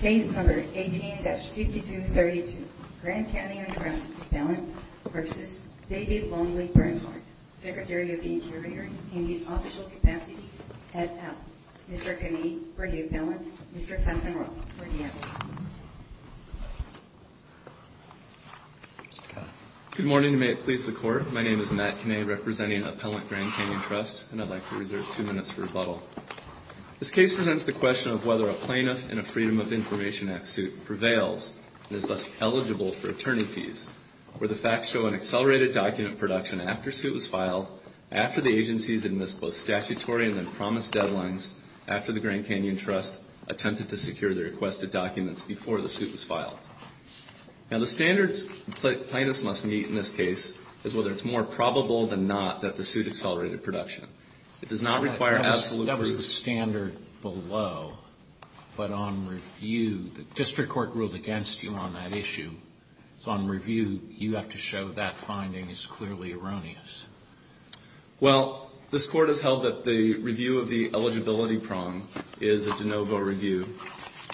Case number 18-5232 Grand Canyon Trust Appellant v. David Lonely Bernhardt Secretary of the Interior in his official capacity at APP Mr. Kinney for the Appellant Mr. Clanton-Roth for the Appellant Good morning and may it please the Court. My name is Matt Kinney representing Appellant Grand Canyon Trust and I'd like to reserve two minutes for rebuttal. This case presents the question of whether a plaintiff in a Freedom of Information Act suit prevails and is thus eligible for attorney fees, where the facts show an accelerated document of production after a suit was filed, after the agencies admissed both statutory and then promised deadlines after the Grand Canyon Trust attempted to secure the requested documents before the suit was filed. Now the standards plaintiffs must meet in this case is whether it's more probable than not that the suit accelerated production. It does not require absolute proof. That was the standard below, but on review, the district court ruled against you on that issue. So on review, you have to show that finding is clearly erroneous. Well, this Court has held that the review of the eligibility prong is a de novo review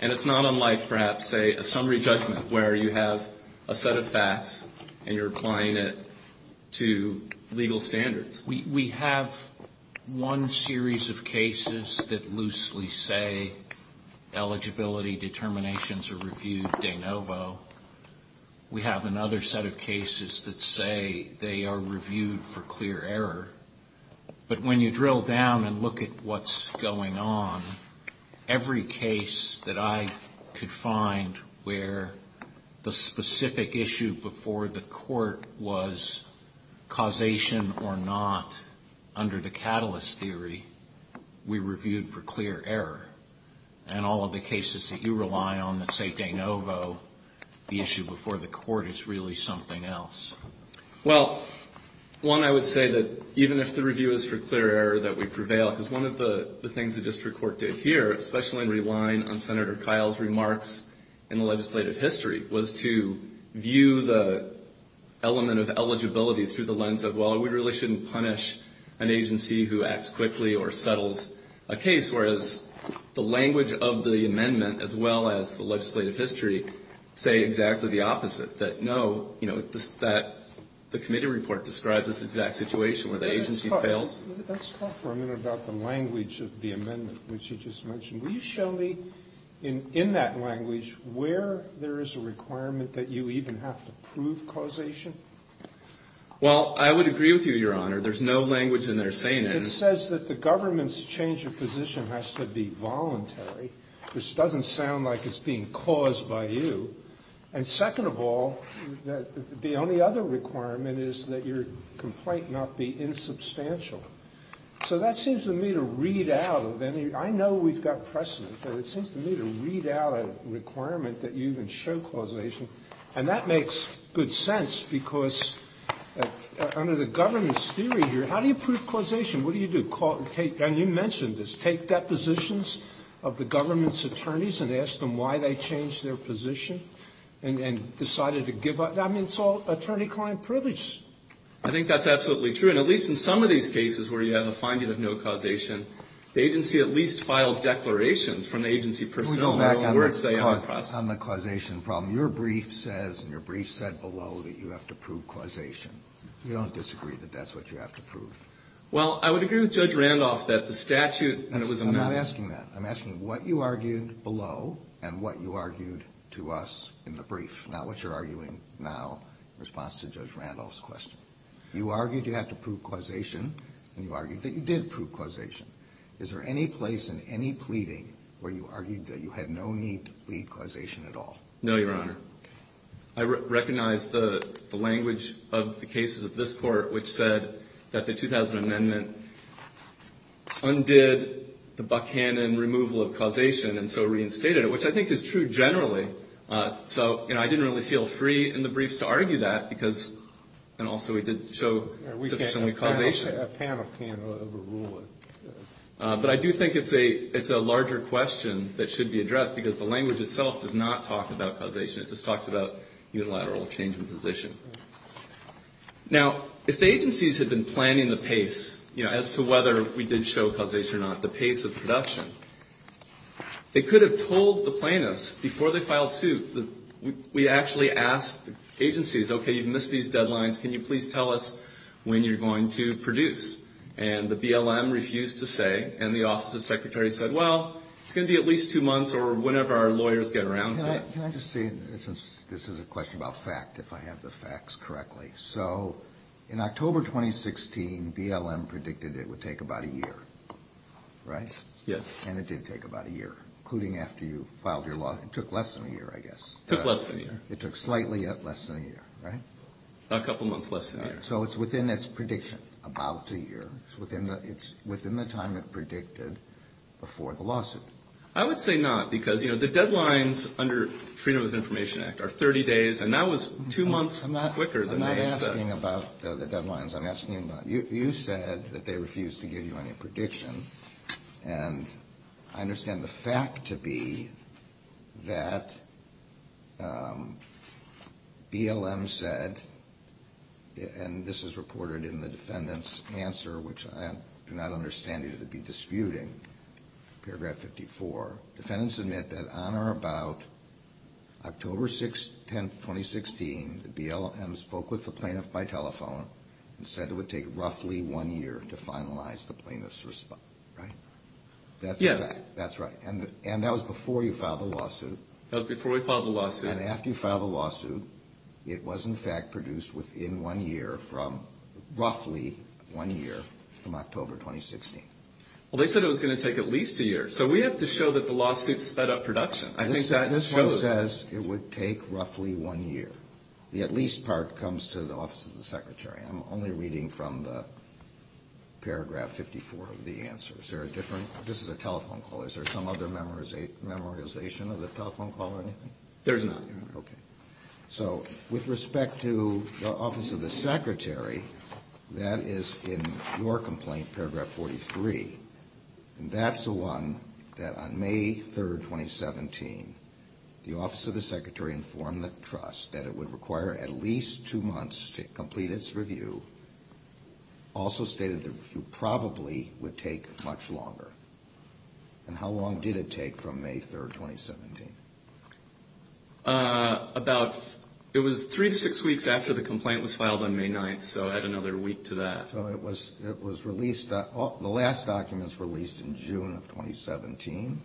and it's not unlike perhaps, say, a summary judgment where you have a set of facts and you're applying it to legal standards. We have one series of cases that loosely say eligibility determinations are reviewed de novo. We have another set of cases that say they are reviewed for clear error. But when you drill down and look at what's going on, every case that I could find where the specific issue before the court was causation or not under the catalyst theory, we reviewed for clear error. And all of the cases that you rely on that say de novo, the issue before the court is really something else. Well, one, I would say that even if the review is for clear error, that we prevail. Because one of the things the district court did here, especially in relying on Senator Kyle's remarks in the legislative history, was to view the element of eligibility through the lens of, well, we really shouldn't punish an agency who acts quickly or settles a case, whereas the language of the amendment, as well as the legislative history, say exactly the opposite, that no, you know, the committee report describes this exact situation where the agency fails. Let's talk for a minute about the language of the amendment, which you just mentioned. Will you show me in that language where there is a requirement that you even have to prove causation? Well, I would agree with you, Your Honor. There's no language in there saying it. It says that the government's change of position has to be voluntary, which doesn't sound like it's being caused by you. And second of all, the only other requirement is that your complaint not be insubstantial. So that seems to me to read out of any of you. I know we've got precedent, but it seems to me to read out a requirement that you even show causation. And that makes good sense, because under the government's theory here, how do you prove causation? What do you do? And you mentioned this. Take depositions of the government's attorneys and ask them why they changed their position and decided to give up. I mean, it's all attorney-client privilege. I think that's absolutely true. And at least in some of these cases where you have a finding of no causation, the agency at least filed declarations from the agency personnel. Can we go back on the causation problem? Your brief says and your brief said below that you have to prove causation. You don't disagree that that's what you have to prove? Well, I would agree with Judge Randolph that the statute when it was amended I'm not asking that. I'm asking what you argued below and what you argued to us in the brief, not what you're arguing now in response to Judge Randolph's question. You argued you have to prove causation, and you argued that you did prove causation. Is there any place in any pleading where you argued that you had no need to plead causation at all? No, Your Honor. I recognize the language of the cases of this Court which said that the 2000 amendment undid the Buchanan removal of causation and so reinstated it, which I think is true generally. So, you know, I didn't really feel free in the briefs to argue that because and also we did show sufficient causation. A panel can't overrule it. But I do think it's a larger question that should be addressed because the language itself does not talk about causation. It just talks about unilateral change in position. Now, if the agencies had been planning the pace, you know, as to whether we did show causation or not, the pace of production, they could have told the plaintiffs before they filed suit that we actually asked the agencies, okay, you've missed these deadlines. Can you please tell us when you're going to produce? And the BLM refused to say, and the Office of the Secretary said, well, it's going to be at least two months or whenever our lawyers get around to it. Can I just say this is a question about fact, if I have the facts correctly. So in October 2016, BLM predicted it would take about a year, right? Yes. And it did take about a year, including after you filed your lawsuit. It took less than a year, I guess. It took less than a year. It took slightly less than a year, right? A couple months less than a year. So it's within its prediction about a year. It's within the time it predicted before the lawsuit. I would say not, because, you know, the deadlines under Freedom of Information Act are 30 days, and that was two months quicker than they said. I'm not asking about the deadlines. I'm asking about you said that they refused to give you any prediction, and I understand the fact to be that BLM said, and this is reported in the defendant's answer, which I do not understand either to be disputing, paragraph 54. Defendants admit that on or about October 10, 2016, the BLM spoke with the plaintiff by telephone and said it would take roughly one year to finalize the plaintiff's response, right? Yes. That's right. And that was before you filed the lawsuit. That was before we filed the lawsuit. And after you filed the lawsuit, it was, in fact, produced within one year from roughly one year from October 2016. Well, they said it was going to take at least a year. So we have to show that the lawsuit sped up production. I think that shows. This one says it would take roughly one year. The at least part comes to the Office of the Secretary. I'm only reading from the paragraph 54 of the answer. Is there a different? This is a telephone call. Is there some other memorization of the telephone call or anything? There's none. Okay. So with respect to the Office of the Secretary, that is in your complaint, paragraph 43. And that's the one that on May 3, 2017, the Office of the Secretary informed the trust that it would require at least two months to complete its review, also stated the review probably would take much longer. And how long did it take from May 3, 2017? It was three to six weeks after the complaint was filed on May 9, so add another week to that. So it was released. The last document was released in June of 2017,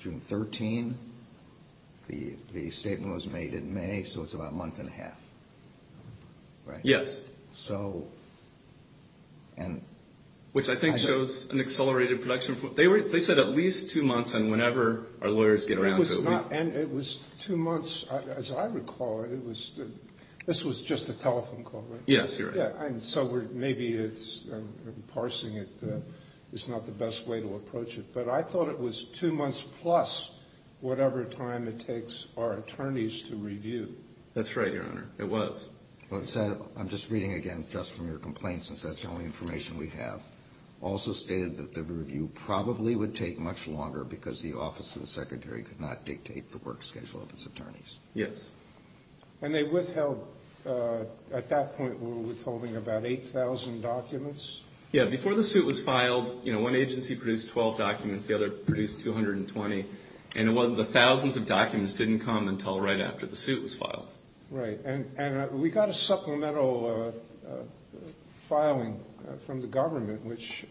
June 13. The statement was made in May, so it's about a month and a half, right? Yes. Which I think shows an accelerated production. They said at least two months and whenever our lawyers get around to it. And it was two months, as I recall. This was just a telephone call, right? Yes, you're right. So maybe parsing it is not the best way to approach it. But I thought it was two months plus whatever time it takes our attorneys to review. That's right, Your Honor. It was. I'm just reading again just from your complaint since that's the only information we have. Also stated that the review probably would take much longer because the Office of the Secretary could not dictate the work schedule of its attorneys. Yes. And they withheld. At that point, we were withholding about 8,000 documents. Yeah, before the suit was filed, you know, one agency produced 12 documents. The other produced 220. Right. And we got a supplemental filing from the government which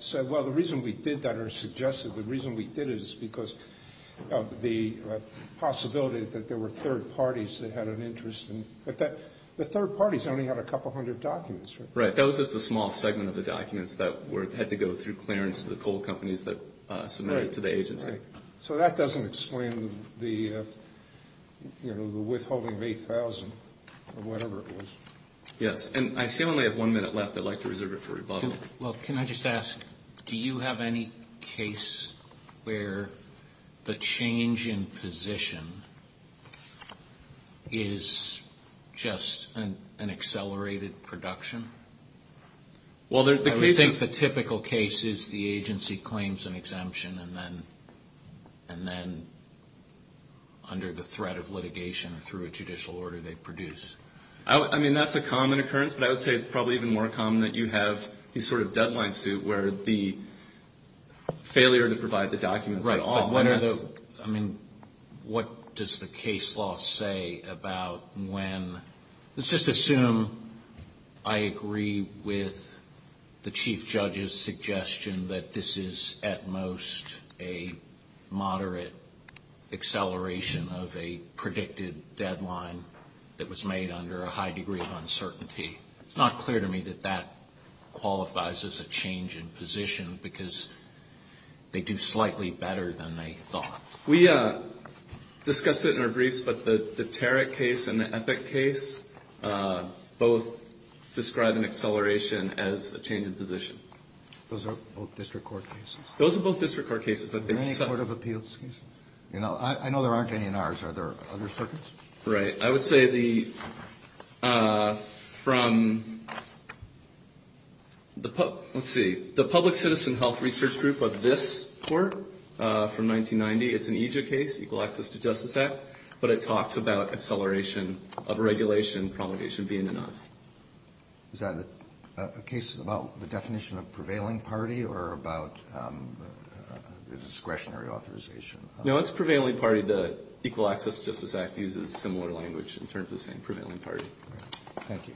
said, well, the reason we did that or suggested the reason we did it is because of the possibility that there were third parties that had an interest. But the third parties only had a couple hundred documents, right? Right. That was just a small segment of the documents that had to go through clearance to the coal companies that submitted it to the agency. Right. So that doesn't explain the withholding of 8,000 or whatever it was. Yes. And I see we only have one minute left. I'd like to reserve it for rebuttal. Well, can I just ask, do you have any case where the change in position is just an accelerated production? Well, the case is... And then under the threat of litigation through a judicial order they produce. I mean, that's a common occurrence, but I would say it's probably even more common that you have these sort of deadline suit where the failure to provide the documents at all. Right. I mean, what does the case law say about when? Let's just assume I agree with the chief judge's suggestion that this is at most a moderate acceleration of a predicted deadline that was made under a high degree of uncertainty. It's not clear to me that that qualifies as a change in position because they do slightly better than they thought. We discussed it in our briefs, but the Tarrant case and the Epic case both describe an acceleration as a change in position. Those are both district court cases? Those are both district court cases. Are there any court of appeals cases? I know there aren't any in ours. Are there other circuits? Right. I would say from the public citizen health research group of this court from 1990, it's an EJID case, Equal Access to Justice Act, but it talks about acceleration of regulation, promulgation being enough. Is that a case about the definition of prevailing party or about discretionary authorization? No, it's prevailing party. The Equal Access to Justice Act uses similar language in terms of saying prevailing party. Thank you.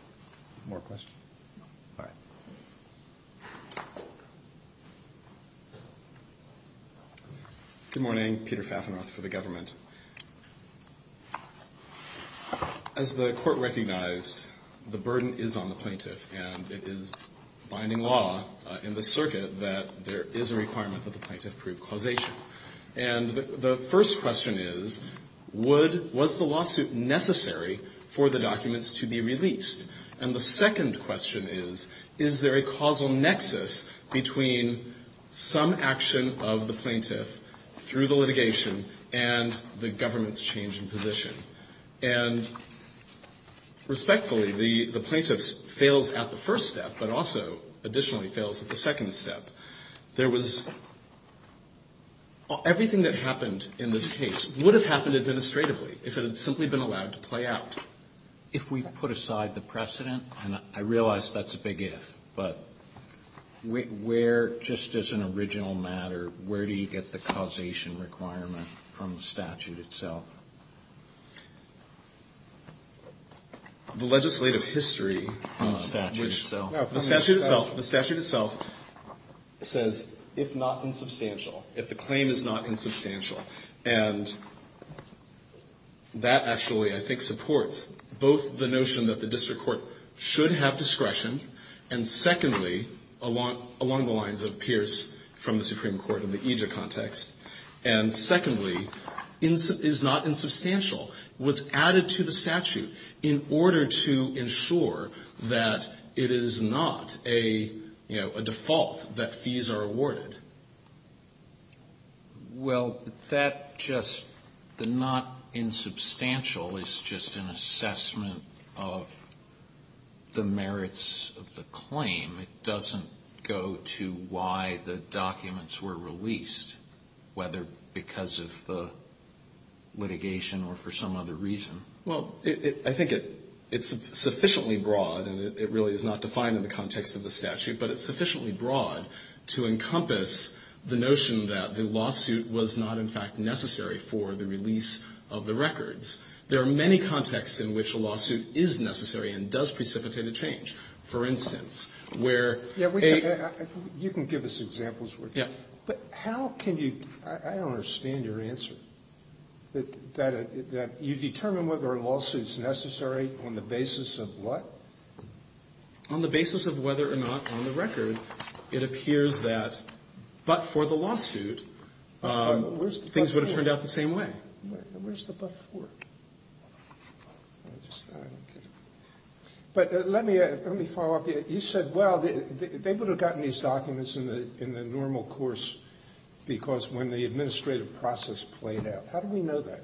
More questions? No. All right. Good morning. Peter Fafenroth for the government. As the Court recognized, the burden is on the plaintiff, and it is binding law in this circuit that there is a requirement that the plaintiff prove causation. And the first question is, would ñ was the lawsuit necessary for the documents to be released? And the second question is, is there a causal nexus between some action of the plaintiff through the litigation and the government's change in position? And respectfully, the plaintiff fails at the first step, but also additionally fails at the second step. There was ñ everything that happened in this case would have happened administratively if it had simply been allowed to play out. If we put aside the precedent, and I realize that's a big if, but where, just as an original matter, where do you get the causation requirement from the statute itself? The legislative history. The statute itself. The statute itself. The statute itself says, if not insubstantial, if the claim is not insubstantial. And that actually, I think, supports both the notion that the district court should have discretion, and secondly, along the lines of Pierce from the Supreme Court in the AJA context, and secondly, is not insubstantial. What's added to the statute in order to ensure that it is not a, you know, a default, that fees are awarded? Well, that just, the not insubstantial is just an assessment of the merits of the claim. It doesn't go to why the documents were released, whether because of the litigation or for some other reason. Well, I think it's sufficiently broad, and it really is not defined in the context of the statute, but it's sufficiently broad to encompass the notion that the lawsuit was not, in fact, necessary for the release of the records. There are many contexts in which a lawsuit is necessary and does precipitate a change. For instance, where a ---- You can give us examples, would you? Yes. But how can you, I don't understand your answer, that you determine whether a lawsuit is necessary on the basis of what? On the basis of whether or not on the record it appears that but for the lawsuit things would have turned out the same way. Where's the but for? I just, I don't get it. But let me follow up. You said, well, they would have gotten these documents in the normal course because when the administrative process played out. How do we know that?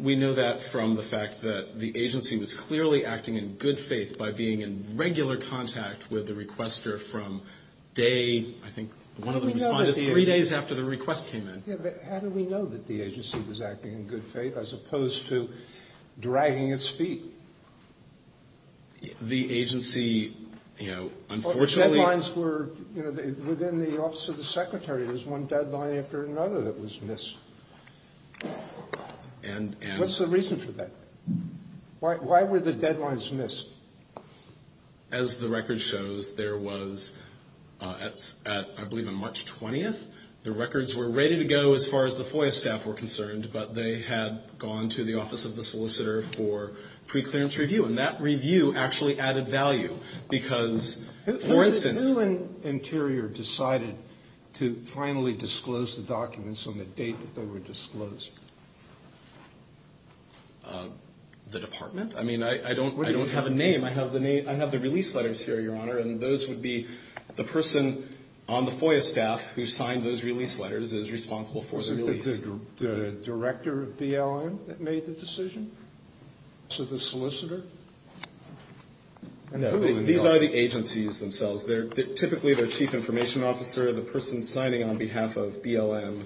We know that from the fact that the agency was clearly acting in good faith by being in regular contact with the requester from day, I think one of them responded, three days after the request came in. Yeah, but how do we know that the agency was acting in good faith as opposed to dragging its feet? The agency, you know, unfortunately. Deadlines were, you know, within the Office of the Secretary, there's one deadline after another that was missed. What's the reason for that? Why were the deadlines missed? As the record shows, there was, I believe on March 20th, the records were ready to go as far as the FOIA staff were concerned, but they had gone to the Office of the Solicitor for preclearance review. And that review actually added value because, for instance. Who in Interior decided to finally disclose the documents on the date that they were disclosed? The department? I mean, I don't have a name. I have the release letters here, Your Honor, and those would be the person on the FOIA staff who signed those release letters is responsible for the release. Was it the director of BLM that made the decision? So the solicitor? These are the agencies themselves. Typically their chief information officer, the person signing on behalf of BLM,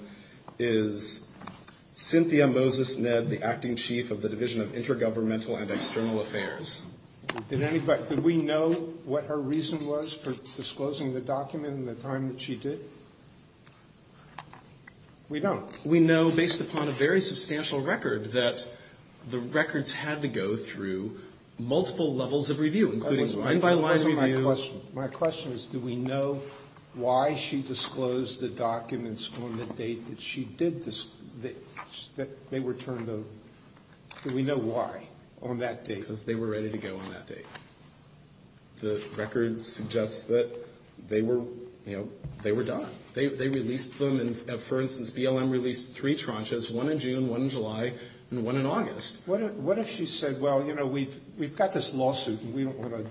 is Cynthia Moses-Ned, the acting chief of the Division of Intergovernmental and External Affairs. Did we know what her reason was for disclosing the document in the time that she did? We don't. We know, based upon a very substantial record, that the records had to go through multiple levels of review, including line-by-line review. My question is, do we know why she disclosed the documents on the date that she did this, that they were turned over? Do we know why on that date? Because they were ready to go on that date. The record suggests that they were, you know, they were done. They released them and, for instance, BLM released three tranches, one in June, one in July, and one in August. What if she said, well, you know, we've got this lawsuit and we don't want to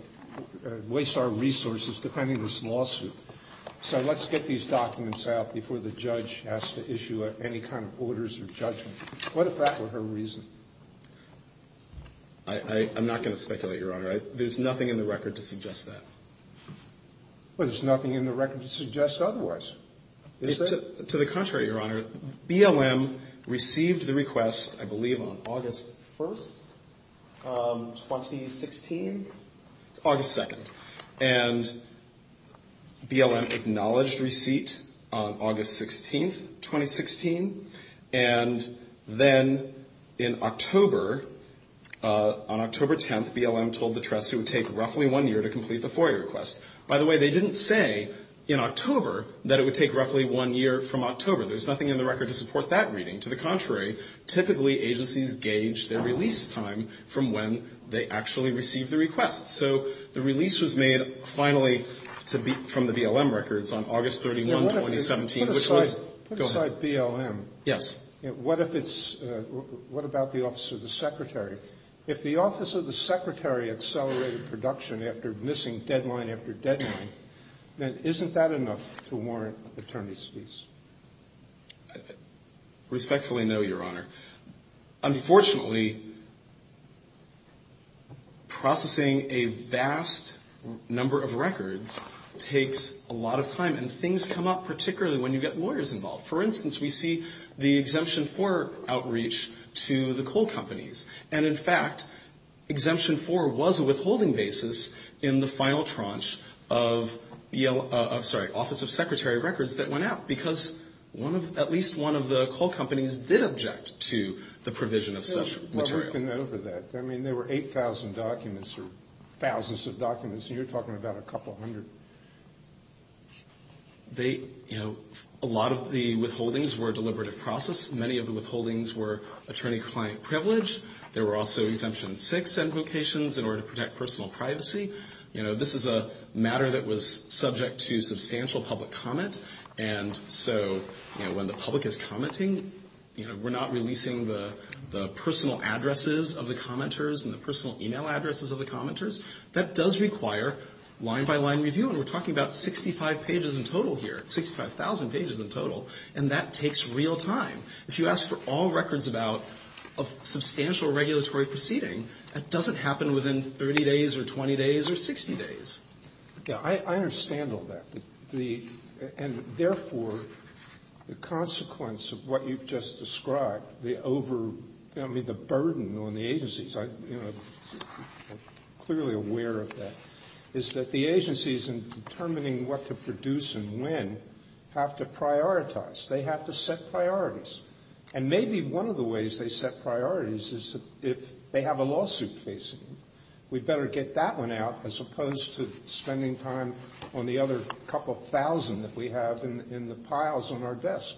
waste our resources defending this lawsuit, so let's get these documents out before the judge has to issue any kind of orders or judgment? What if that were her reason? I'm not going to speculate, Your Honor. There's nothing in the record to suggest that. Well, there's nothing in the record to suggest otherwise, is there? To the contrary, Your Honor. BLM received the request, I believe, on August 1st, 2016? August 2nd. And BLM acknowledged receipt on August 16th, 2016. And then in October, on October 10th, BLM told the trust it would take roughly one year to complete the FOIA request. By the way, they didn't say in October that it would take roughly one year from October. There's nothing in the record to support that reading. To the contrary, typically agencies gauge their release time from when they actually receive the request. So the release was made finally from the BLM records on August 31, 2017, which was Go ahead. Put aside BLM. Yes. What if it's what about the Office of the Secretary? If the Office of the Secretary accelerated production after missing deadline after deadline, then isn't that enough to warrant attorney's fees? Respectfully no, Your Honor. Unfortunately, processing a vast number of records takes a lot of time. And things come up particularly when you get lawyers involved. For instance, we see the exemption for outreach to the coal companies. And, in fact, exemption four was a withholding basis in the final tranche of Office of Secretary records that went out because at least one of the coal companies did object to the provision of such material. I mean, there were 8,000 documents or thousands of documents, and you're talking about a couple hundred. A lot of the withholdings were a deliberative process. Many of the withholdings were attorney-client privilege. There were also exemption six invocations in order to protect personal privacy. You know, this is a matter that was subject to substantial public comment. And so, you know, when the public is commenting, you know, we're not releasing the personal addresses of the commenters and the personal email addresses of the commenters. That does require line-by-line review. And that takes real time. If you ask for all records about a substantial regulatory proceeding, that doesn't happen within 30 days or 20 days or 60 days. Yeah. I understand all that. And, therefore, the consequence of what you've just described, the over the burden on the agencies, I'm clearly aware of that, is that the agencies in determining what to produce and when have to prioritize. They have to set priorities. And maybe one of the ways they set priorities is if they have a lawsuit facing them. We'd better get that one out as opposed to spending time on the other couple thousand that we have in the piles on our desk.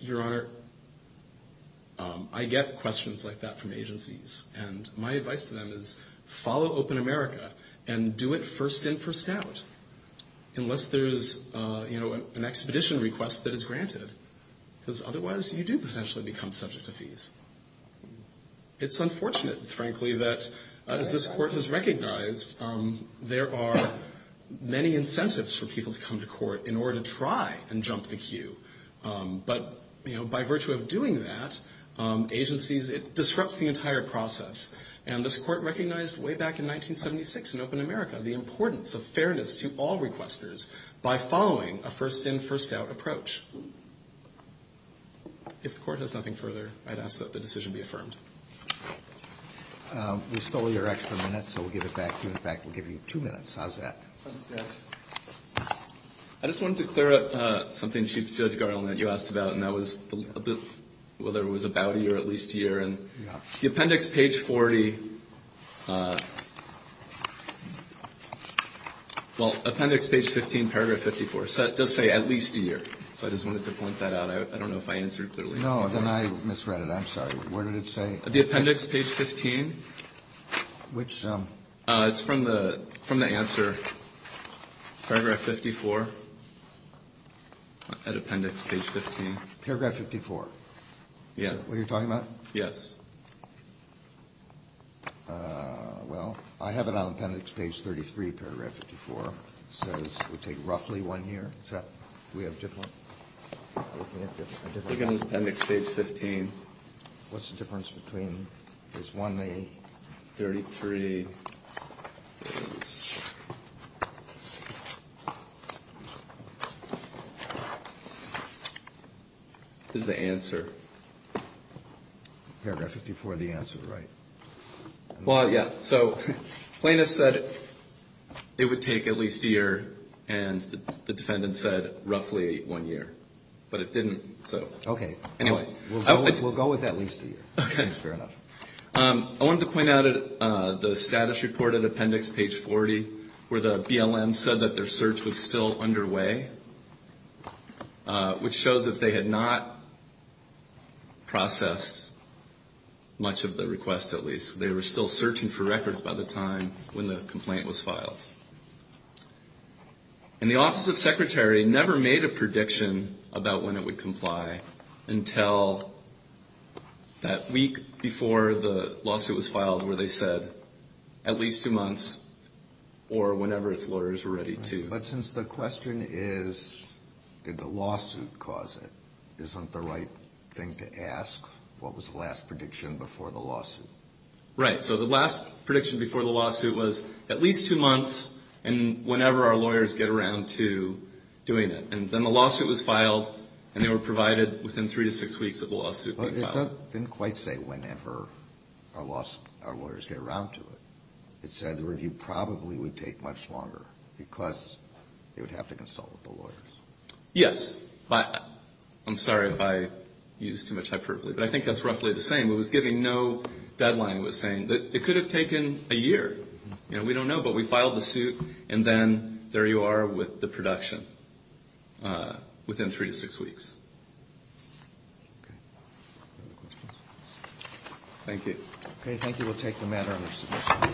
Your Honor, I get questions like that from agencies. And my advice to them is follow Open America and do it first in, first out, unless there's, you know, an expedition request that is granted. Because, otherwise, you do potentially become subject to fees. It's unfortunate, frankly, that as this Court has recognized, there are many incentives for people to come to court in order to try and jump the queue. But, you know, by virtue of doing that, agencies, it disrupts the entire process. And this Court recognized way back in 1976 in Open America the importance of fairness to all requesters by following a first in, first out approach. If the Court has nothing further, I'd ask that the decision be affirmed. We stole your extra minute, so we'll give it back to you. In fact, we'll give you two minutes. How's that? I just wanted to clear up something, Chief Judge Garland, that you asked about, and that was whether it was about a year or at least a year. The appendix, page 40, well, appendix page 15, paragraph 54, does say at least a year. So I just wanted to point that out. I don't know if I answered clearly. No, then I misread it. I'm sorry. Where did it say? The appendix, page 15. Which? It's from the answer, paragraph 54, appendix page 15. Paragraph 54? Yes. Is that what you're talking about? Yes. Well, I have it on appendix page 33, paragraph 54. It says it would take roughly one year. So we have a different one? I think it's appendix page 15. What's the difference between? It's one day. 33. This is the answer. Paragraph 54, the answer, right? Well, yes. So plaintiff said it would take at least a year, and the defendant said roughly one year. But it didn't, so. Okay. Anyway. We'll go with at least a year. Okay. Fair enough. I wanted to point out the status report at appendix page 40 where the BLM said that their search was still underway, which shows that they had not processed much of the request, at least. They were still searching for records by the time when the complaint was filed. And the Office of Secretary never made a prediction about when it would lawsuit was filed where they said at least two months or whenever its lawyers were ready to. But since the question is did the lawsuit cause it, isn't the right thing to ask what was the last prediction before the lawsuit? Right. So the last prediction before the lawsuit was at least two months and whenever our lawyers get around to doing it. And then the lawsuit was filed, and they were provided within three to six weeks of the lawsuit being filed. It didn't quite say whenever our lawyers get around to it. It said the review probably would take much longer because they would have to consult with the lawyers. Yes. I'm sorry if I used too much hyperbole, but I think that's roughly the same. It was giving no deadline. It was saying that it could have taken a year. We don't know, but we filed the suit, and then there you are with the production within three to six weeks. Okay. Any other questions? Thank you. Okay. Thank you. We'll take the matter under submission.